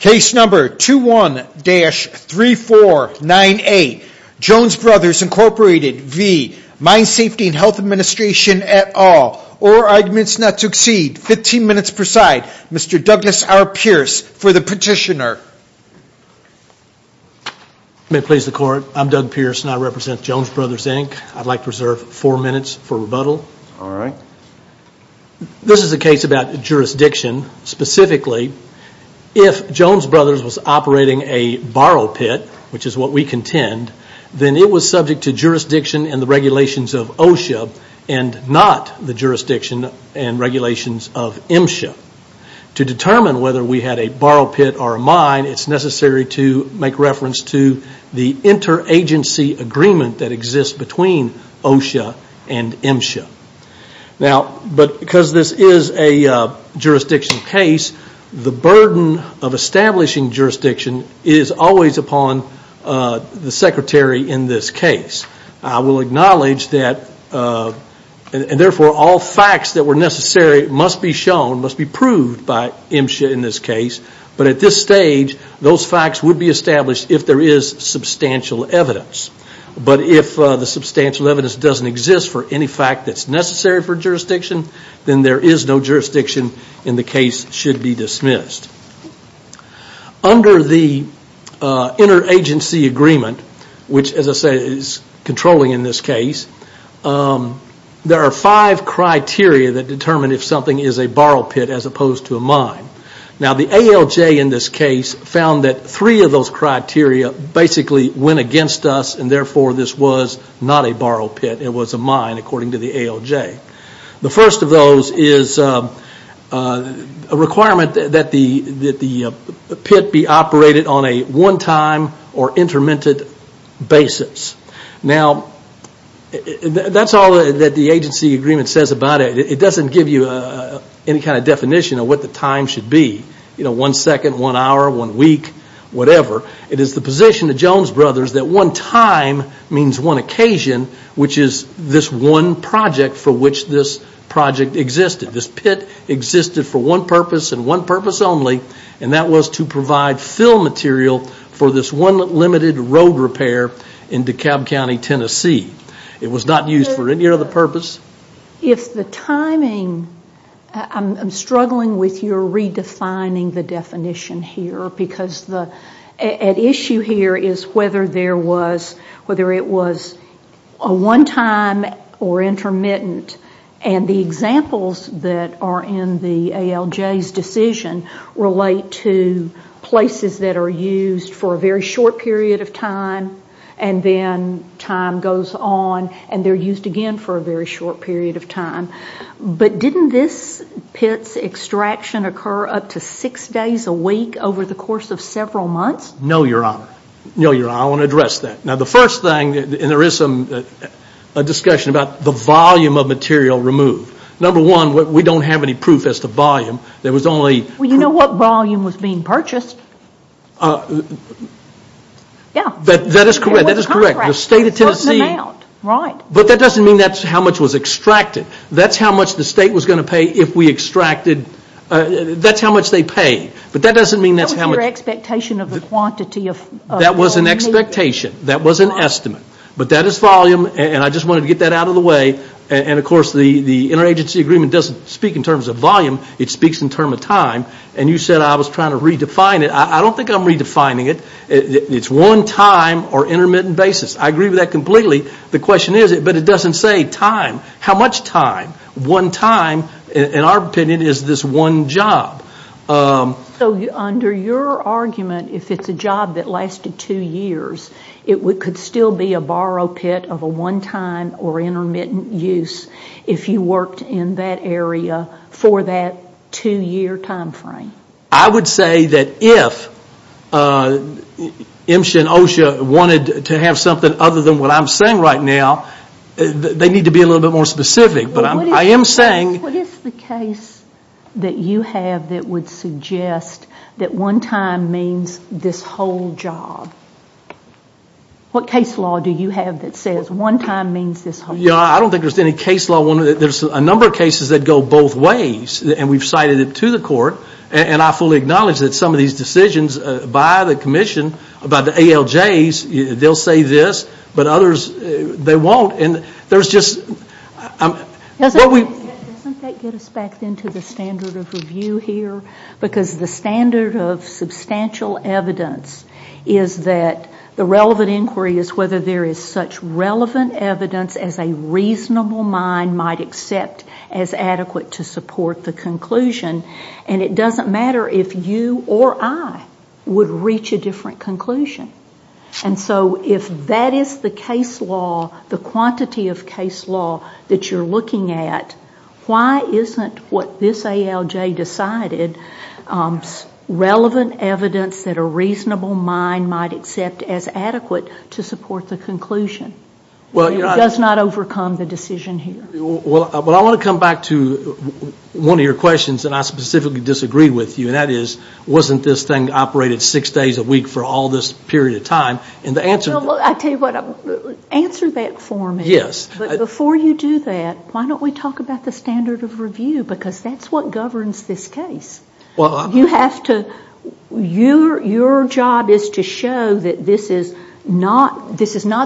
Case number 21-3498, Jones Brothers Incorporated v. Mine Safety and Health Administration et al. All arguments not to exceed 15 minutes per side. Mr. Douglas R. Pierce for the petitioner. May it please the court. I'm Doug Pierce and I represent Jones Brothers Inc. I'd like to reserve four minutes for rebuttal. This is a case about jurisdiction. Specifically, if Jones Brothers was operating a borrow pit, which is what we contend, then it was subject to jurisdiction and the regulations of OSHA and not the jurisdiction and regulations of MSHA. To determine whether we had a borrow pit or a mine, it's necessary to make reference to the interagency agreement that exists between OSHA and MSHA. Because this is a jurisdiction case, the burden of establishing jurisdiction is always upon the secretary in this case. I will acknowledge that all facts that were necessary must be shown, must be proved by MSHA in this case, but at this stage, those facts would be established if there is substantial evidence. But if the substantial evidence doesn't exist for any fact that's necessary for jurisdiction, then there is no jurisdiction and the case should be dismissed. Under the interagency agreement, which as I say is controlling in this case, there are five criteria that determine if something is a borrow pit as opposed to a mine. Now the ALJ in this case found that three of those criteria basically went against us and therefore this was not a borrow pit, it was a mine according to the ALJ. The first of those is a requirement that the pit be operated on a one-time or intermittent basis. Now that's all that the agency agreement says about it. It doesn't give you any kind of definition of what the time should be. One second, one hour, one week, whatever. It is the position of Jones Brothers that one time means one occasion, which is this one project for which this project existed. This pit existed for one purpose and one purpose only and that was to provide fill material for this one limited road repair in DeKalb County, Tennessee. It was not used for any other purpose. If the timing, I'm struggling with your redefining the definition here because at issue here is whether it was a one-time or intermittent and the examples that are in the ALJ's decision relate to places that are used for a very short period of time and then time goes on and they're used again for a very short period of time. But didn't this pit's extraction occur up to six days a week over the course of several months? No, Your Honor. I want to address that. Now the first thing, and there is some discussion about the volume of material removed. Number one, we don't have any proof as to volume. Well, you know what volume was being purchased. Yeah. That is correct. The state of Tennessee. But that doesn't mean that's how much was extracted. That's how much the state was going to pay if we extracted, that's how much they paid. But that doesn't mean that's how much... That was your expectation of the quantity of... That was an expectation, that was an estimate. But that is volume and I just wanted to get that out of the way and of course the interagency agreement doesn't speak in terms of volume, it speaks in terms of time and you said I was trying to redefine it. I don't think I'm redefining it. It's one time or intermittent basis. I agree with that completely. The question is, but it doesn't say time. How much time? One time, in our opinion, is this one job. So under your argument, if it's a job that lasted two years, it could still be a borrow pit of a one time or intermittent use if you worked in that area for that two year time frame. I would say that if MSHA and OSHA wanted to have something other than what I'm saying right now, they need to be a little bit more specific, but I am saying... What is the case that you have that would suggest that one time means this whole job? What case law do you have that says one time means this whole job? I don't think there's any case law. There's a number of cases that go both ways, and we've cited it to the court, and I fully acknowledge that some of these decisions by the commission about the ALJs, they'll say this, but others, they won't, and there's just... Doesn't that get us back into the standard of review here? Because the standard of substantial evidence is that the relevant inquiry is whether there is such relevant evidence as a reasonable mind might accept as adequate to support the conclusion, and it doesn't matter if you or I would reach a different conclusion. And so if that is the case law, the quantity of case law that you're looking at, why isn't what this ALJ decided relevant evidence that a reasonable mind might accept as adequate to support the conclusion? It does not overcome the decision here. Well, I want to come back to one of your questions that I specifically disagreed with you, and that is wasn't this thing operated six days a week for all this period of time? Answer that for me. Yes. But before you do that, why don't we talk about the standard of review? Because that's what governs this case. Your job is to show that this is not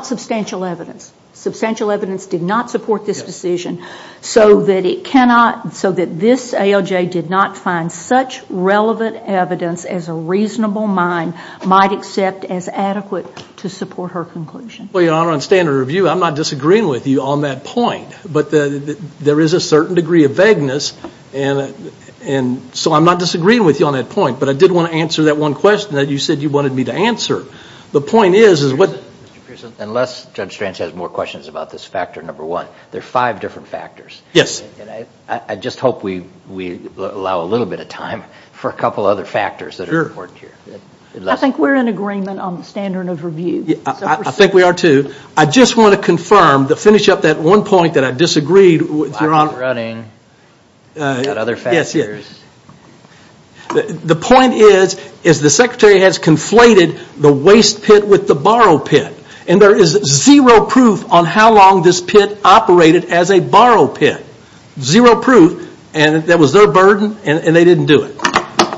substantial evidence. Substantial evidence did not support this decision, so that this ALJ did not find such relevant evidence as a reasonable mind might accept as adequate to support her conclusion. Well, Your Honor, on standard of review, I'm not disagreeing with you on that point, but there is a certain degree of vagueness, and so I'm not disagreeing with you on that point, but I did want to answer that one question that you said you wanted me to answer. The point is, is what – Mr. Pearson, unless Judge Strantz has more questions about this factor number one, there are five different factors. Yes. And I just hope we allow a little bit of time for a couple other factors that are important here. Sure. I think we're in agreement on the standard of review. I think we are too. I just want to confirm, to finish up that one point that I disagreed with Your Honor. The clock is running. We've got other factors. Yes, yes. The point is, is the Secretary has conflated the waste pit with the borrow pit, and there is zero proof on how long this pit operated as a borrow pit. Zero proof, and that was their burden, and they didn't do it.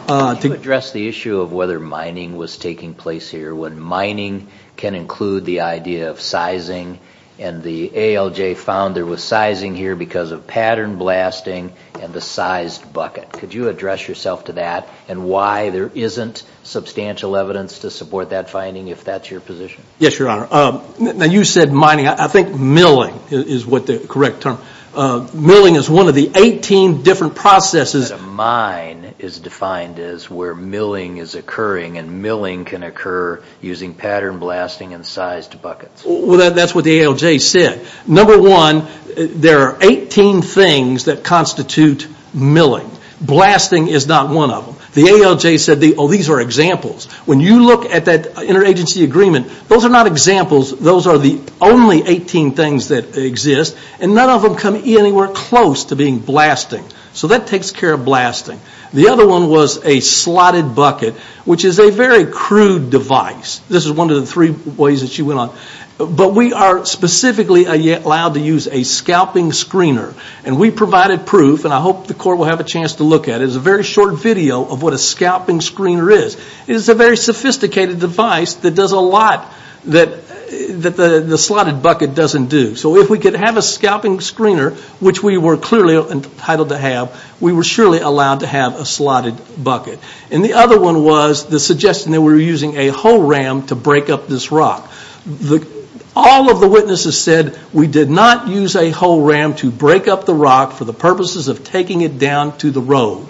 To address the issue of whether mining was taking place here, when mining can include the idea of sizing, and the ALJ found there was sizing here because of pattern blasting and the sized bucket. Could you address yourself to that and why there isn't substantial evidence to support that finding, if that's your position? Yes, Your Honor. Now, you said mining. I think milling is what the correct term – milling is one of the 18 different processes – is defined as where milling is occurring, and milling can occur using pattern blasting and sized buckets. Well, that's what the ALJ said. Number one, there are 18 things that constitute milling. Blasting is not one of them. The ALJ said, oh, these are examples. When you look at that interagency agreement, those are not examples. Those are the only 18 things that exist, and none of them come anywhere close to being blasting. So that takes care of blasting. The other one was a slotted bucket, which is a very crude device. This is one of the three ways that she went on. But we are specifically allowed to use a scalping screener, and we provided proof, and I hope the Court will have a chance to look at it. It's a very short video of what a scalping screener is. It is a very sophisticated device that does a lot that the slotted bucket doesn't do. So if we could have a scalping screener, which we were clearly entitled to have, we were surely allowed to have a slotted bucket. And the other one was the suggestion that we were using a whole ram to break up this rock. All of the witnesses said we did not use a whole ram to break up the rock for the purposes of taking it down to the road.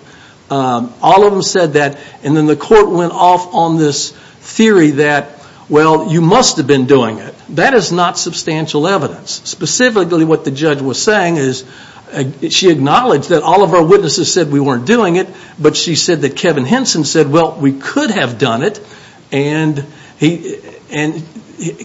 All of them said that, and then the Court went off on this theory that, well, you must have been doing it. That is not substantial evidence. Specifically what the judge was saying is she acknowledged that all of our witnesses said we weren't doing it, but she said that Kevin Henson said, well, we could have done it, and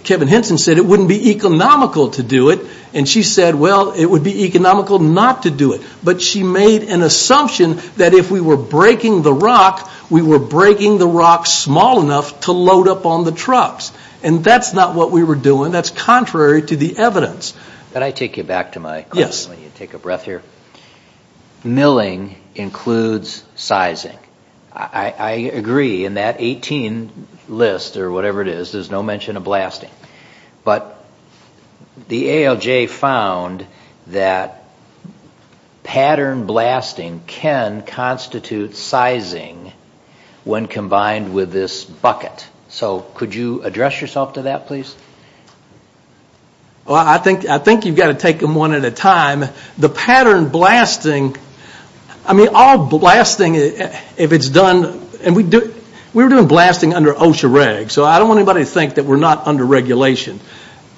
Kevin Henson said it wouldn't be economical to do it, and she said, well, it would be economical not to do it. But she made an assumption that if we were breaking the rock, we were breaking the rock small enough to load up on the trucks. And that's not what we were doing. That's contrary to the evidence. Can I take you back to my question while you take a breath here? Yes. Milling includes sizing. I agree in that 18 list or whatever it is, there's no mention of blasting. But the ALJ found that pattern blasting can constitute sizing when combined with this bucket. So could you address yourself to that, please? Well, I think you've got to take them one at a time. The pattern blasting, I mean, all blasting, if it's done, and we were doing blasting under OSHA regs, so I don't want anybody to think that we're not under regulation.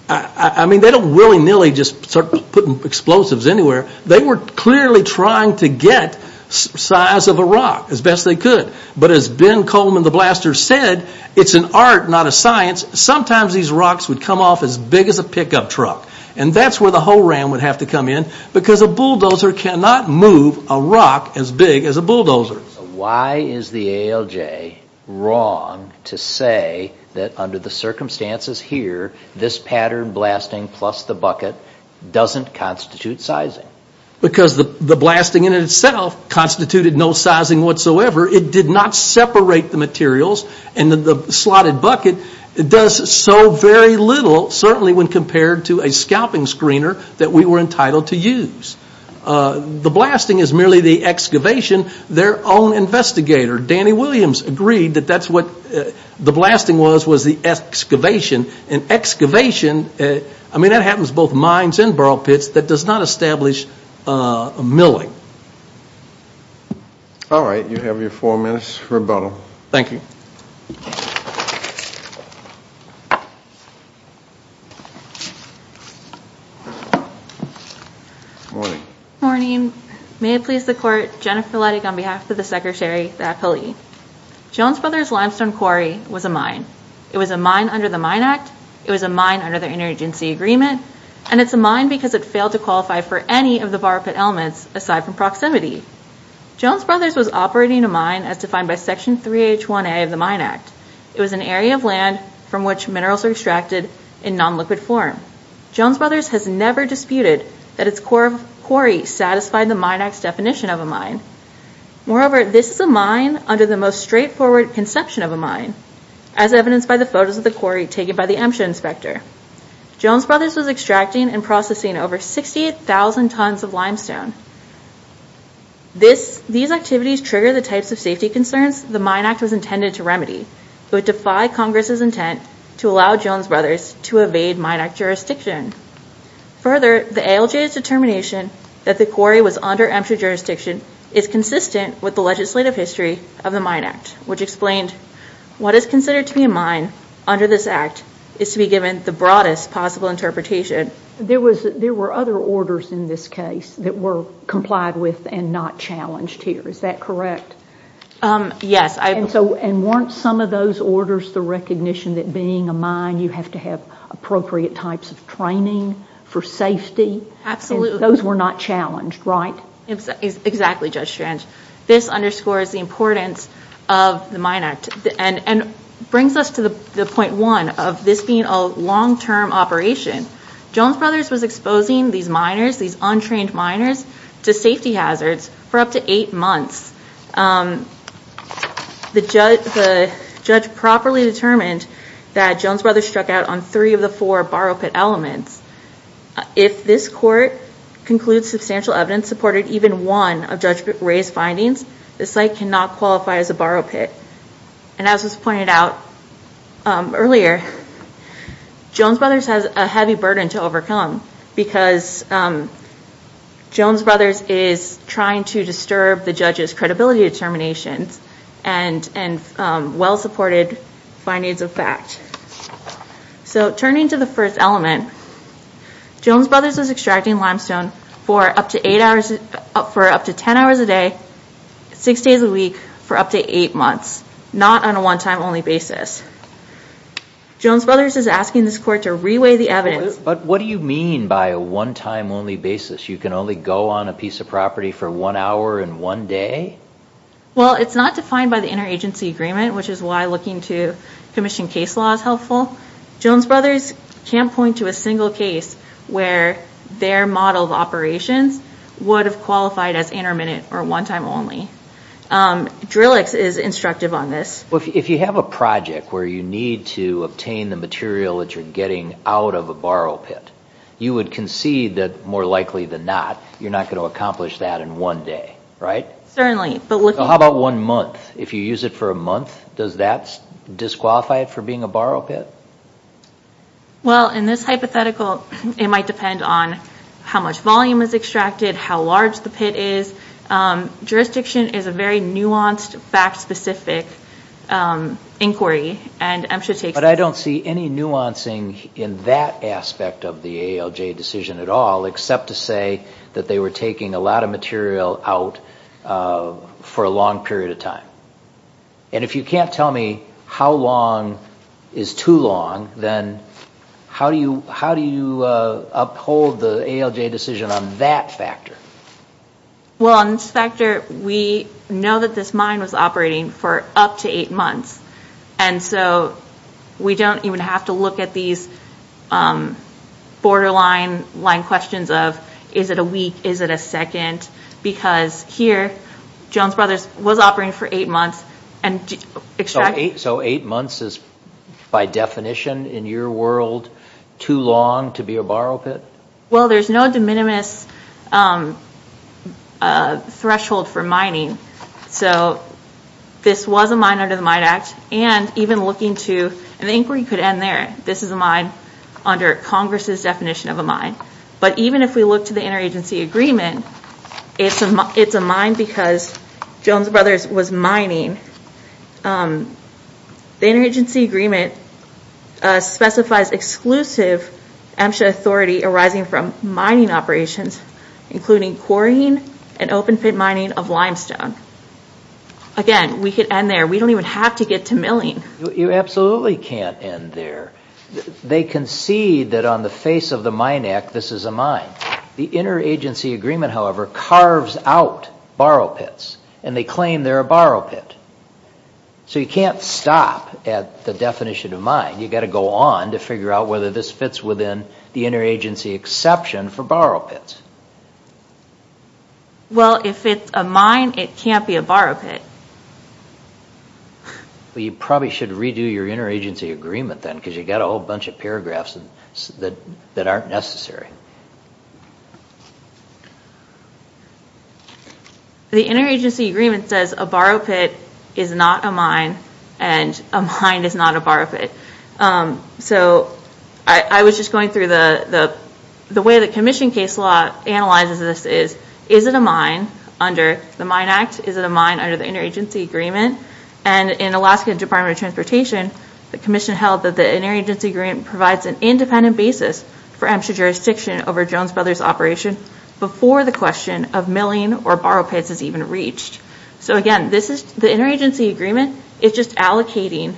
I mean, they don't willy-nilly just start putting explosives anywhere. They were clearly trying to get size of a rock as best they could. But as Ben Coleman, the blaster, said, it's an art, not a science. Sometimes these rocks would come off as big as a pickup truck. And that's where the whole ram would have to come in because a bulldozer cannot move a rock as big as a bulldozer. Why is the ALJ wrong to say that under the circumstances here, this pattern blasting plus the bucket doesn't constitute sizing? Because the blasting in itself constituted no sizing whatsoever. It did not separate the materials. And the slotted bucket does so very little, certainly when compared to a scalping screener that we were entitled to use. The blasting is merely the excavation. Their own investigator, Danny Williams, agreed that that's what the blasting was, was the excavation. And excavation, I mean, that happens both mines and burl pits. That does not establish milling. All right. You have your four minutes rebuttal. Thank you. Morning. Morning. May it please the court. Jennifer Ledig on behalf of the secretary, the appellee. Jones Brothers Limestone Quarry was a mine. It was a mine under the Mine Act. It was a mine under the interagency agreement. And it's a mine because it failed to qualify for any of the Jones Brothers was operating a mine as defined by Section 3H1A of the Mine Act. It was an area of land from which minerals are extracted in non-liquid form. Jones Brothers has never disputed that its core of quarry satisfied the Mine Act's definition of a mine. Moreover, this is a mine under the most straightforward conception of a mine, as evidenced by the photos of the quarry taken by the Emsha inspector. Jones Brothers was extracting and processing over 68,000 tons of limestone. These activities trigger the types of safety concerns the Mine Act was intended to remedy. It would defy Congress's intent to allow Jones Brothers to evade Mine Act jurisdiction. Further, the ALJ's determination that the quarry was under Emsha jurisdiction is consistent with the legislative history of the Mine Act, which explained what is considered to be a mine under this act is to be given the broadest possible interpretation. There were other orders in this case that were complied with and not challenged here. Is that correct? Yes. And weren't some of those orders the recognition that being a mine you have to have appropriate types of training for safety? Absolutely. Those were not challenged, right? Exactly, Judge Strange. This underscores the importance of the Mine Act and brings us to the point one of this being a long-term operation Jones Brothers was exposing these miners, these untrained miners, to safety hazards for up to eight months. The judge properly determined that Jones Brothers struck out on three of the four borrow pit elements. If this court concludes substantial evidence supported even one of Judge Ray's findings, the site cannot qualify as a borrow pit. And as was pointed out earlier, Jones Brothers has a heavy burden to overcome because Jones Brothers is trying to disturb the judge's credibility determinations and well-supported findings of fact. So turning to the first element, Jones Brothers was extracting limestone for up to ten hours a day, six days a week, for up to eight months, not on a one-time only basis. Jones Brothers is asking this court to reweigh the evidence. But what do you mean by a one-time only basis? You can only go on a piece of property for one hour in one day? Well, it's not defined by the interagency agreement, which is why looking to commission case law is helpful. Jones Brothers can't point to a single case where their model of operations would have qualified as intermittent or one-time only. Drillix is instructive on this. If you have a project where you need to obtain the material that you're getting out of a borrow pit, you would concede that, more likely than not, you're not going to accomplish that in one day, right? Certainly. How about one month? If you use it for a month, does that disqualify it for being a borrow pit? Well, in this hypothetical, it might depend on how much volume is extracted, how large the pit is. Jurisdiction is a very nuanced, fact-specific inquiry. But I don't see any nuancing in that aspect of the ALJ decision at all, except to say that they were taking a lot of material out for a long period of time. And if you can't tell me how long is too long, then how do you uphold the ALJ decision on that factor? Well, on this factor, we know that this mine was operating for up to eight months. And so we don't even have to look at these borderline line questions of, is it a week, is it a second? Because here, Jones Brothers was operating for eight months. So eight months is, by definition, in your world, too long to be a borrow pit? Well, there's no de minimis threshold for mining. So this was a mine under the Mine Act. And even looking to, and the inquiry could end there, this is a mine under Congress's definition of a mine. But even if we look to the interagency agreement, it's a mine because Jones Brothers was mining. The interagency agreement specifies exclusive MSHA authority arising from mining operations, including quarrying and open pit mining of limestone. Again, we could end there. We don't even have to get to milling. You absolutely can't end there. They concede that on the face of the Mine Act, this is a mine. The interagency agreement, however, carves out borrow pits, and they claim they're a borrow pit. So you can't stop at the definition of mine. You've got to go on to figure out whether this fits within the interagency exception for borrow pits. Well, if it's a mine, it can't be a borrow pit. Well, you probably should redo your interagency agreement then because you've got a whole bunch of paragraphs that aren't necessary. The interagency agreement says a borrow pit is not a mine and a mine is not a borrow pit. So I was just going through the way the commission case law analyzes this is, is it a mine under the Mine Act? Is it a mine under the interagency agreement? And in Alaska Department of Transportation, the commission held that the interagency agreement provides an independent basis for MSHA jurisdiction over Jones Brothers' operation before the question of milling or borrow pits is even reached. So, again, this is the interagency agreement. It's just allocating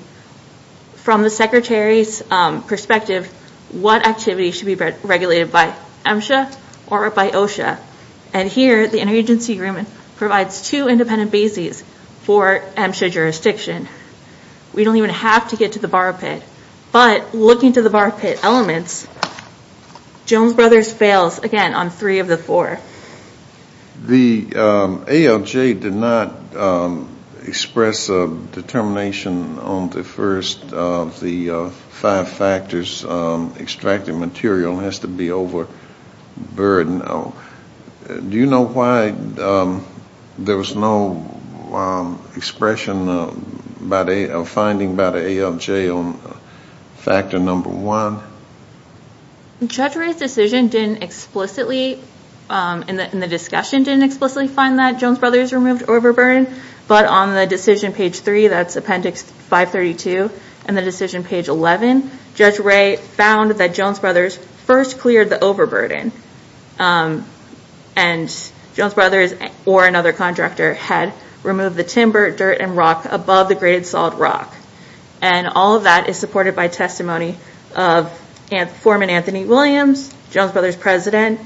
from the secretary's perspective what activities should be regulated by MSHA or by OSHA. And here the interagency agreement provides two independent bases for MSHA jurisdiction. We don't even have to get to the borrow pit. But looking to the borrow pit elements, Jones Brothers fails again on three of the four. The ALJ did not express a determination on the first of the five factors. Extracted material has to be overburdened. Do you know why there was no expression or finding by the ALJ on factor number one? Judge Ray's decision didn't explicitly in the discussion didn't explicitly find that Jones Brothers removed overburden. But on the decision page three, that's appendix 532, and the decision page 11, Judge Ray found that Jones Brothers first cleared the overburden. And Jones Brothers or another contractor had removed the timber, dirt, and rock above the graded salt rock. And all of that is supported by testimony of Foreman Anthony Williams, Jones Brothers President,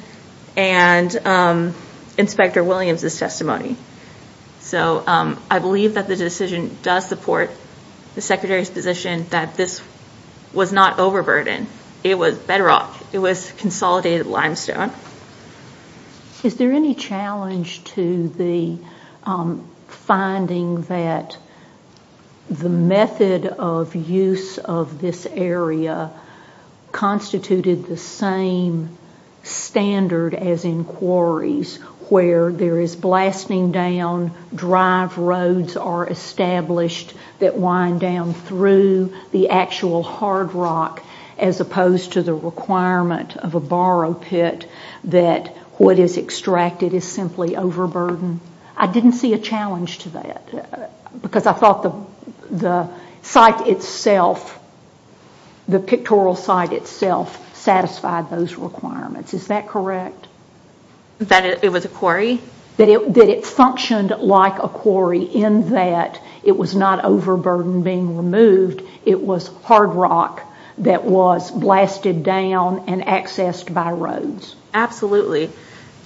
and Inspector Williams' testimony. So I believe that the decision does support the Secretary's position that this was not overburden. It was bedrock. It was consolidated limestone. Is there any challenge to the finding that the method of use of this area constituted the same standard as in quarries where there is blasting down, drive roads are established that wind down through the actual hard rock as opposed to the requirement of a borrow pit that what is extracted is simply overburdened? I didn't see a challenge to that because I thought the site itself, the pictorial site itself satisfied those requirements. Is that correct? That it was a quarry? That it functioned like a quarry in that it was not overburden being removed. It was hard rock that was blasted down and accessed by roads. Absolutely.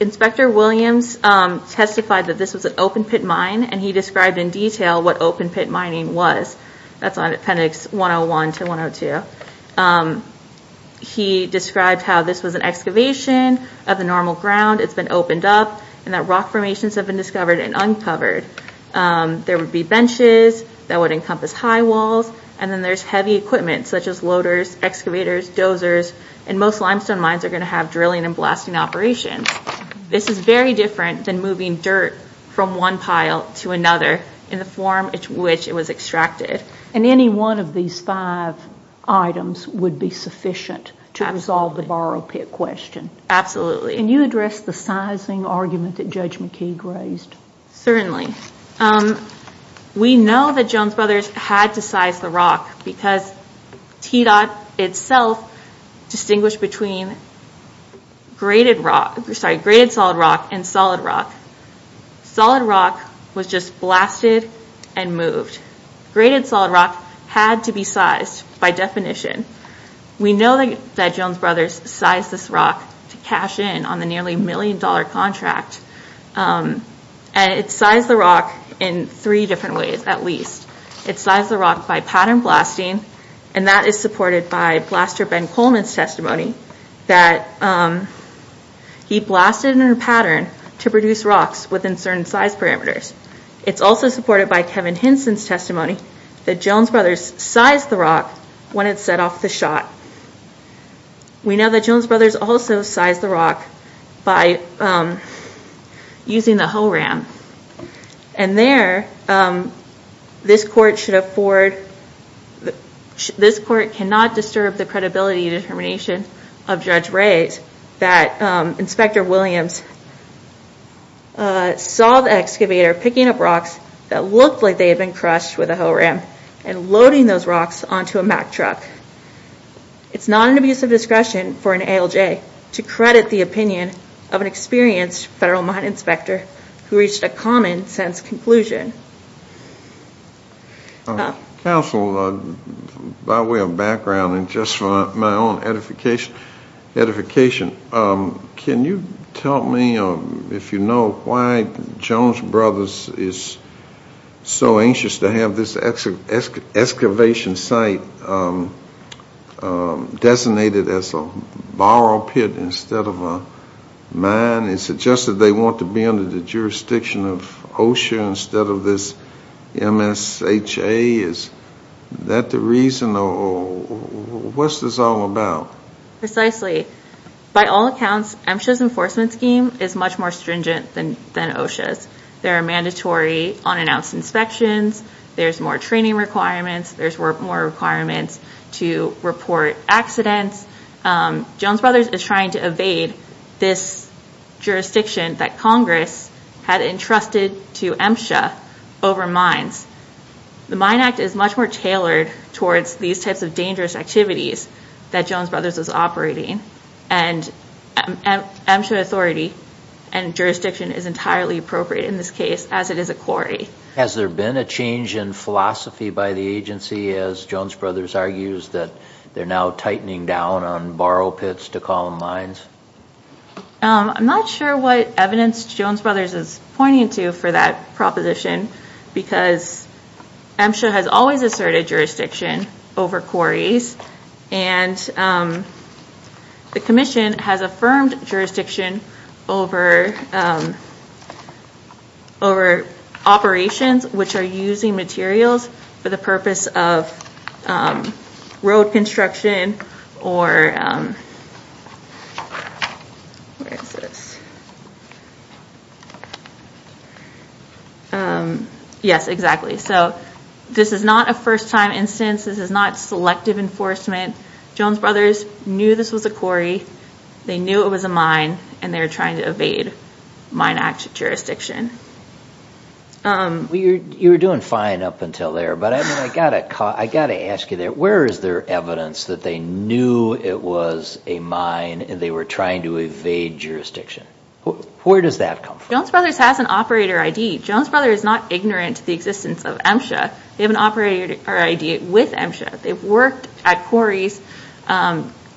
Inspector Williams testified that this was an open pit mine and he described in detail what open pit mining was. That's on appendix 101 to 102. He described how this was an excavation of the normal ground. It's been opened up and that rock formations have been discovered and uncovered. There would be benches that would encompass high walls and most limestone mines are going to have drilling and blasting operations. This is very different than moving dirt from one pile to another in the form in which it was extracted. Any one of these five items would be sufficient to resolve the borrow pit question? Absolutely. Can you address the sizing argument that Judge McKeague raised? Certainly. We know that Jones Brothers had to size the rock because TDOT itself distinguished between graded solid rock and solid rock. Solid rock was just blasted and moved. Graded solid rock had to be sized by definition. We know that Jones Brothers sized this rock to cash in on the nearly million dollar contract. It sized the rock in three different ways at least. It sized the rock by pattern blasting and that is supported by blaster Ben Coleman's testimony that he blasted in a pattern to produce rocks within certain size parameters. It's also supported by Kevin Hinson's testimony that Jones Brothers sized the rock when it set off the shot. We know that Jones Brothers also sized the rock by using the hoe ram. There, this court cannot disturb the credibility and determination of Judge Reyes that Inspector Williams saw the excavator picking up rocks that looked like they had been crushed with a hoe ram and loading those rocks onto a Mack truck. It's not an abuse of discretion for an ALJ to credit the opinion of an experienced Federal Mine Inspector who reached a common sense conclusion. Counsel, by way of background and just for my own edification, can you tell me if you know why Jones Brothers is so anxious to have this excavation site designated as a borrow pit instead of a mine and suggested they want to be under the jurisdiction of OSHA instead of this MSHA? Is that the reason or what's this all about? Precisely. By all accounts, MSHA's enforcement scheme is much more stringent than OSHA's. There are mandatory unannounced inspections, there's more training requirements, there's more requirements to report accidents. Jones Brothers is trying to evade this jurisdiction that Congress had entrusted to MSHA over mines. The Mine Act is much more tailored towards these types of dangerous activities that Jones Brothers is operating, and MSHA authority and jurisdiction is entirely appropriate in this case as it is a quarry. Has there been a change in philosophy by the agency as Jones Brothers argues that they're now tightening down on borrow pits to column mines? I'm not sure what evidence Jones Brothers is pointing to for that proposition because MSHA has always asserted jurisdiction over quarries and the Commission has affirmed jurisdiction over operations which are using materials for the purpose of road construction. This is not a first-time instance, this is not selective enforcement. Jones Brothers knew this was a quarry, they knew it was a mine, and they were trying to evade Mine Act jurisdiction. You were doing fine up until there, but I got to ask you, where is there evidence that they knew it was a mine and they were trying to evade jurisdiction? Where does that come from? Jones Brothers has an operator ID. Jones Brothers is not ignorant to the existence of MSHA. They have an operator ID with MSHA. They've worked at quarries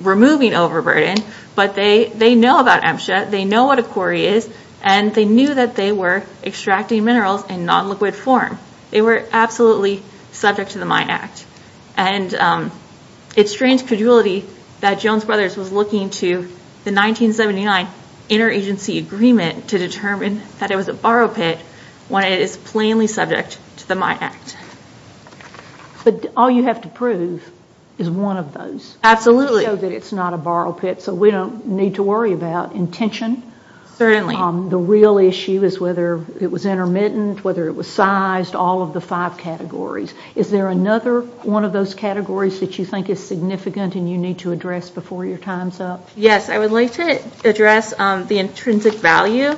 removing overburden, but they know about MSHA, they know what a quarry is, and they knew that they were extracting minerals in non-liquid form. They were absolutely subject to the Mine Act. And it's strange credulity that Jones Brothers was looking to the 1979 interagency agreement to determine that it was a borrow pit when it is plainly subject to the Mine Act. But all you have to prove is one of those. Absolutely. To show that it's not a borrow pit so we don't need to worry about intention Certainly. The real issue is whether it was intermittent, whether it was sized, all of the five categories. Is there another one of those categories that you think is significant and you need to address before your time's up? Yes, I would like to address the intrinsic value.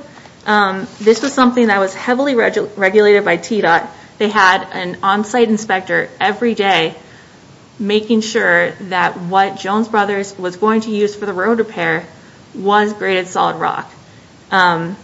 This was something that was heavily regulated by TDOT. They had an on-site inspector every day making sure that what Jones Brothers was going to use for the road repair was graded solid rock. And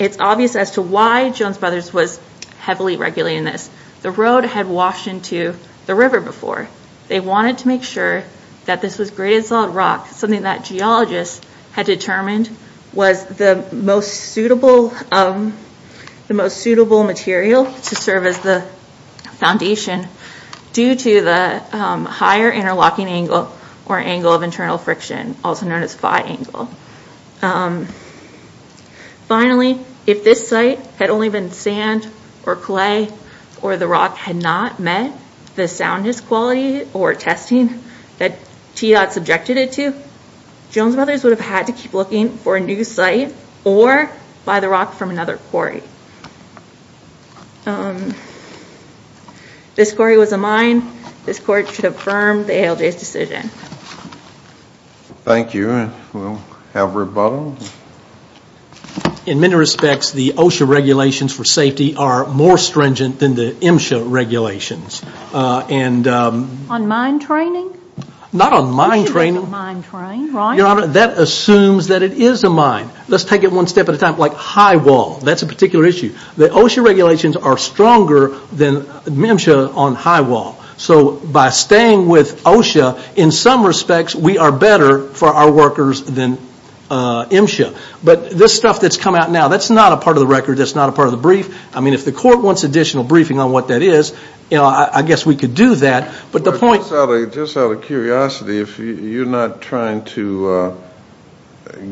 it's obvious as to why Jones Brothers was heavily regulating this. The road had washed into the river before. They wanted to make sure that this was graded solid rock, something that geologists had determined was the most suitable material to serve as the foundation due to the higher interlocking angle or angle of internal friction, also known as phi angle. Finally, if this site had only been sand or clay or the rock had not met the soundness quality or testing that TDOT subjected it to, Jones Brothers would have had to keep looking for a new site or buy the rock from another quarry. This quarry was a mine. This court should affirm the ALJ's decision. Thank you. And we'll have rebuttal. In many respects, the OSHA regulations for safety are more stringent than the MSHA regulations. On mine training? Not on mine training. Your Honor, that assumes that it is a mine. Let's take it one step at a time. Like high wall, that's a particular issue. The OSHA regulations are stronger than MSHA on high wall. So by staying with OSHA, in some respects, we are better for our workers than MSHA. But this stuff that's come out now, that's not a part of the record. That's not a part of the brief. I mean, if the court wants additional briefing on what that is, I guess we could do that. Just out of curiosity, if you're not trying to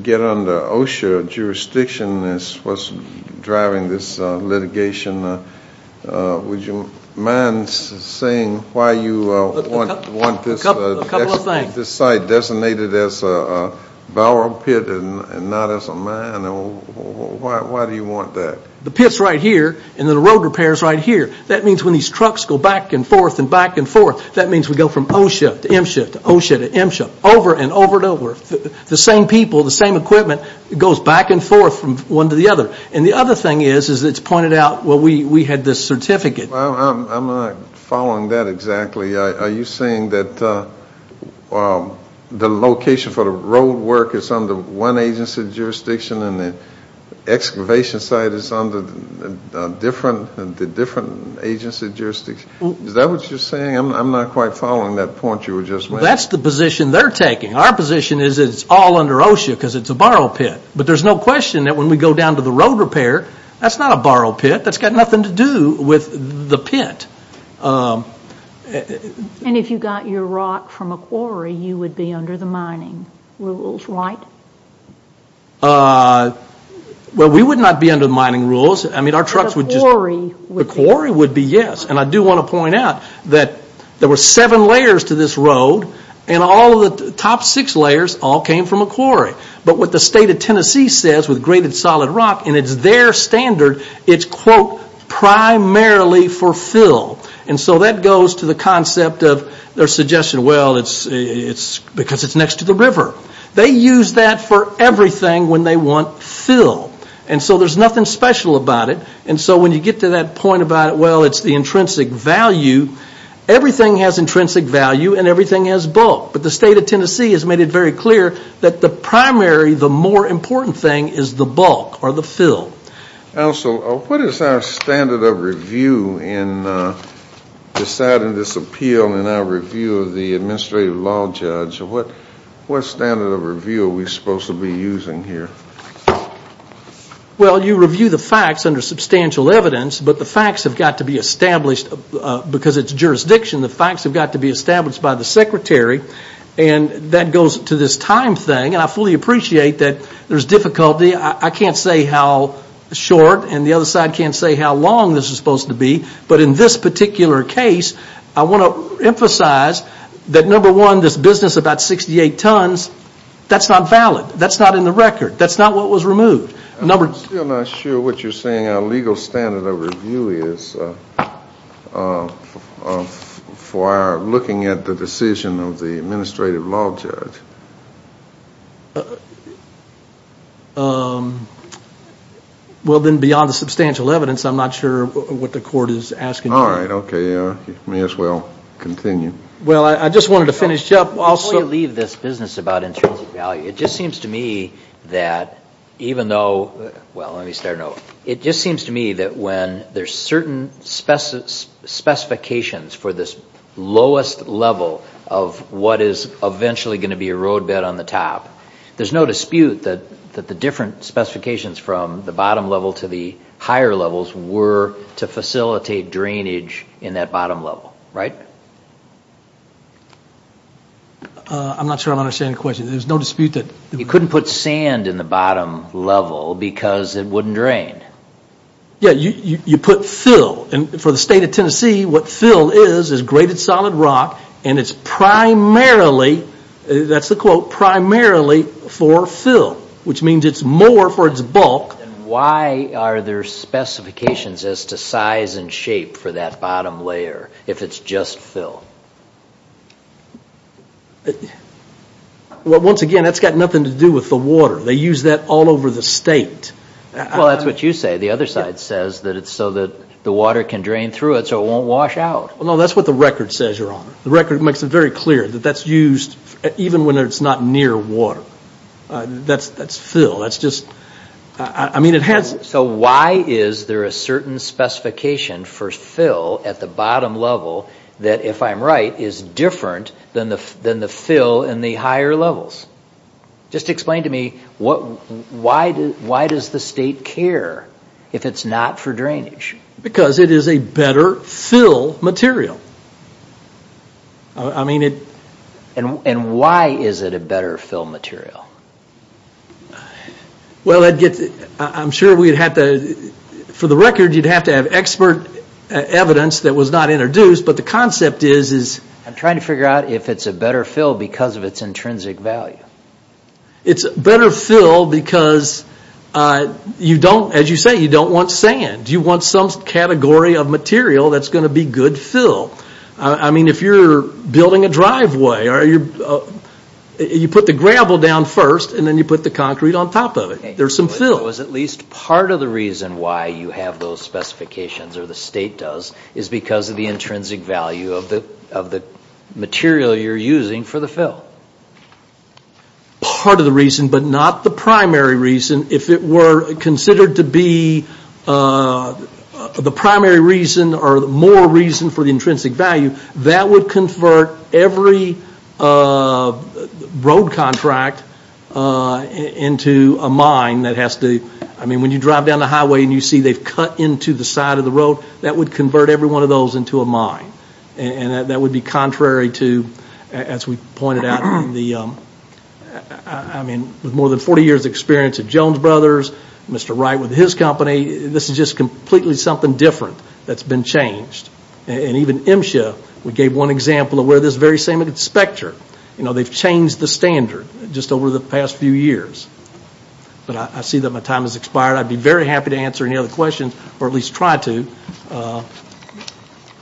get under OSHA jurisdiction as what's driving this litigation, would you mind saying why you want this site designated as a bower pit and not as a mine? Why do you want that? The pit's right here, and the road repair's right here. That means when these trucks go back and forth and back and forth, that means we go from OSHA to MSHA to OSHA to MSHA, over and over and over. The same people, the same equipment goes back and forth from one to the other. And the other thing is it's pointed out, well, we had this certificate. I'm not following that exactly. Are you saying that the location for the road work is under one agency jurisdiction and the excavation site is under the different agency jurisdiction? Is that what you're saying? I'm not quite following that point you were just making. That's the position they're taking. Our position is it's all under OSHA because it's a bower pit. But there's no question that when we go down to the road repair, that's not a bower pit. That's got nothing to do with the pit. And if you got your rock from a quarry, you would be under the mining rules, right? Well, we would not be under the mining rules. The quarry would be. The quarry would be, yes. And I do want to point out that there were seven layers to this road and all of the top six layers all came from a quarry. But what the state of Tennessee says with graded solid rock, and it's their standard, it's, quote, primarily for fill. And so that goes to the concept of their suggestion, well, it's because it's next to the river. They use that for everything when they want fill. And so there's nothing special about it. And so when you get to that point about, well, it's the intrinsic value, everything has intrinsic value and everything has bulk. But the state of Tennessee has made it very clear that the primary, the more important thing is the bulk or the fill. Now, so what is our standard of review in deciding this appeal and our review of the administrative law judge? What standard of review are we supposed to be using here? Well, you review the facts under substantial evidence, but the facts have got to be established because it's jurisdiction. The facts have got to be established by the secretary. And that goes to this time thing. And I fully appreciate that there's difficulty. I can't say how short, and the other side can't say how long this is supposed to be. But in this particular case, I want to emphasize that, number one, this business about 68 tons, that's not valid. That's not in the record. That's not what was removed. I'm still not sure what you're saying. I'm saying our legal standard of review is for looking at the decision of the administrative law judge. Well, then beyond the substantial evidence, I'm not sure what the court is asking you. All right. Okay. May as well continue. Well, I just wanted to finish up. Before you leave this business about intrinsic value, it just seems to me that even though, well, let me start over. It just seems to me that when there's certain specifications for this lowest level of what is eventually going to be a roadbed on the top, there's no dispute that the different specifications from the bottom level to the higher levels were to facilitate drainage in that bottom level. Right? I'm not sure I'm understanding the question. There's no dispute that. You couldn't put sand in the bottom level because it wouldn't drain. Yeah. You put fill. For the state of Tennessee, what fill is is graded solid rock, and it's primarily, that's the quote, primarily for fill, which means it's more for its bulk. Why are there specifications as to size and shape for that bottom layer if it's just fill? Well, once again, that's got nothing to do with the water. They use that all over the state. Well, that's what you say. The other side says that it's so that the water can drain through it so it won't wash out. Well, no, that's what the record says, Your Honor. The record makes it very clear that that's used even when it's not near water. That's fill. That's just, I mean, it has. So why is there a certain specification for fill at the bottom level that, if I'm right, is different than the fill in the higher levels? Just explain to me why does the state care if it's not for drainage? Because it is a better fill material. I mean it. And why is it a better fill material? Well, I'm sure for the record you'd have to have expert evidence that was not introduced, but the concept is... I'm trying to figure out if it's a better fill because of its intrinsic value. It's a better fill because, as you say, you don't want sand. You want some category of material that's going to be good fill. I mean, if you're building a driveway, you put the gravel down first and then you put the concrete on top of it. There's some fill. At least part of the reason why you have those specifications, or the state does, is because of the intrinsic value of the material you're using for the fill. Part of the reason, but not the primary reason. If it were considered to be the primary reason or more reason for the intrinsic value, that would convert every road contract into a mine that has to... I mean, when you drive down the highway and you see they've cut into the side of the road, that would convert every one of those into a mine. And that would be contrary to, as we pointed out, I mean, with more than 40 years' experience at Jones Brothers, Mr. Wright with his company, this is just completely something different that's been changed. And even MSHA, we gave one example of where this very same specter, they've changed the standard just over the past few years. But I see that my time has expired. I'd be very happy to answer any other questions, or at least try to.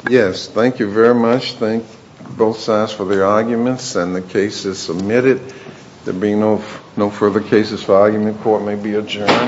Yes, thank you very much. I just thank both sides for their arguments, and the case is submitted. There being no further cases, the argument court may be adjourned.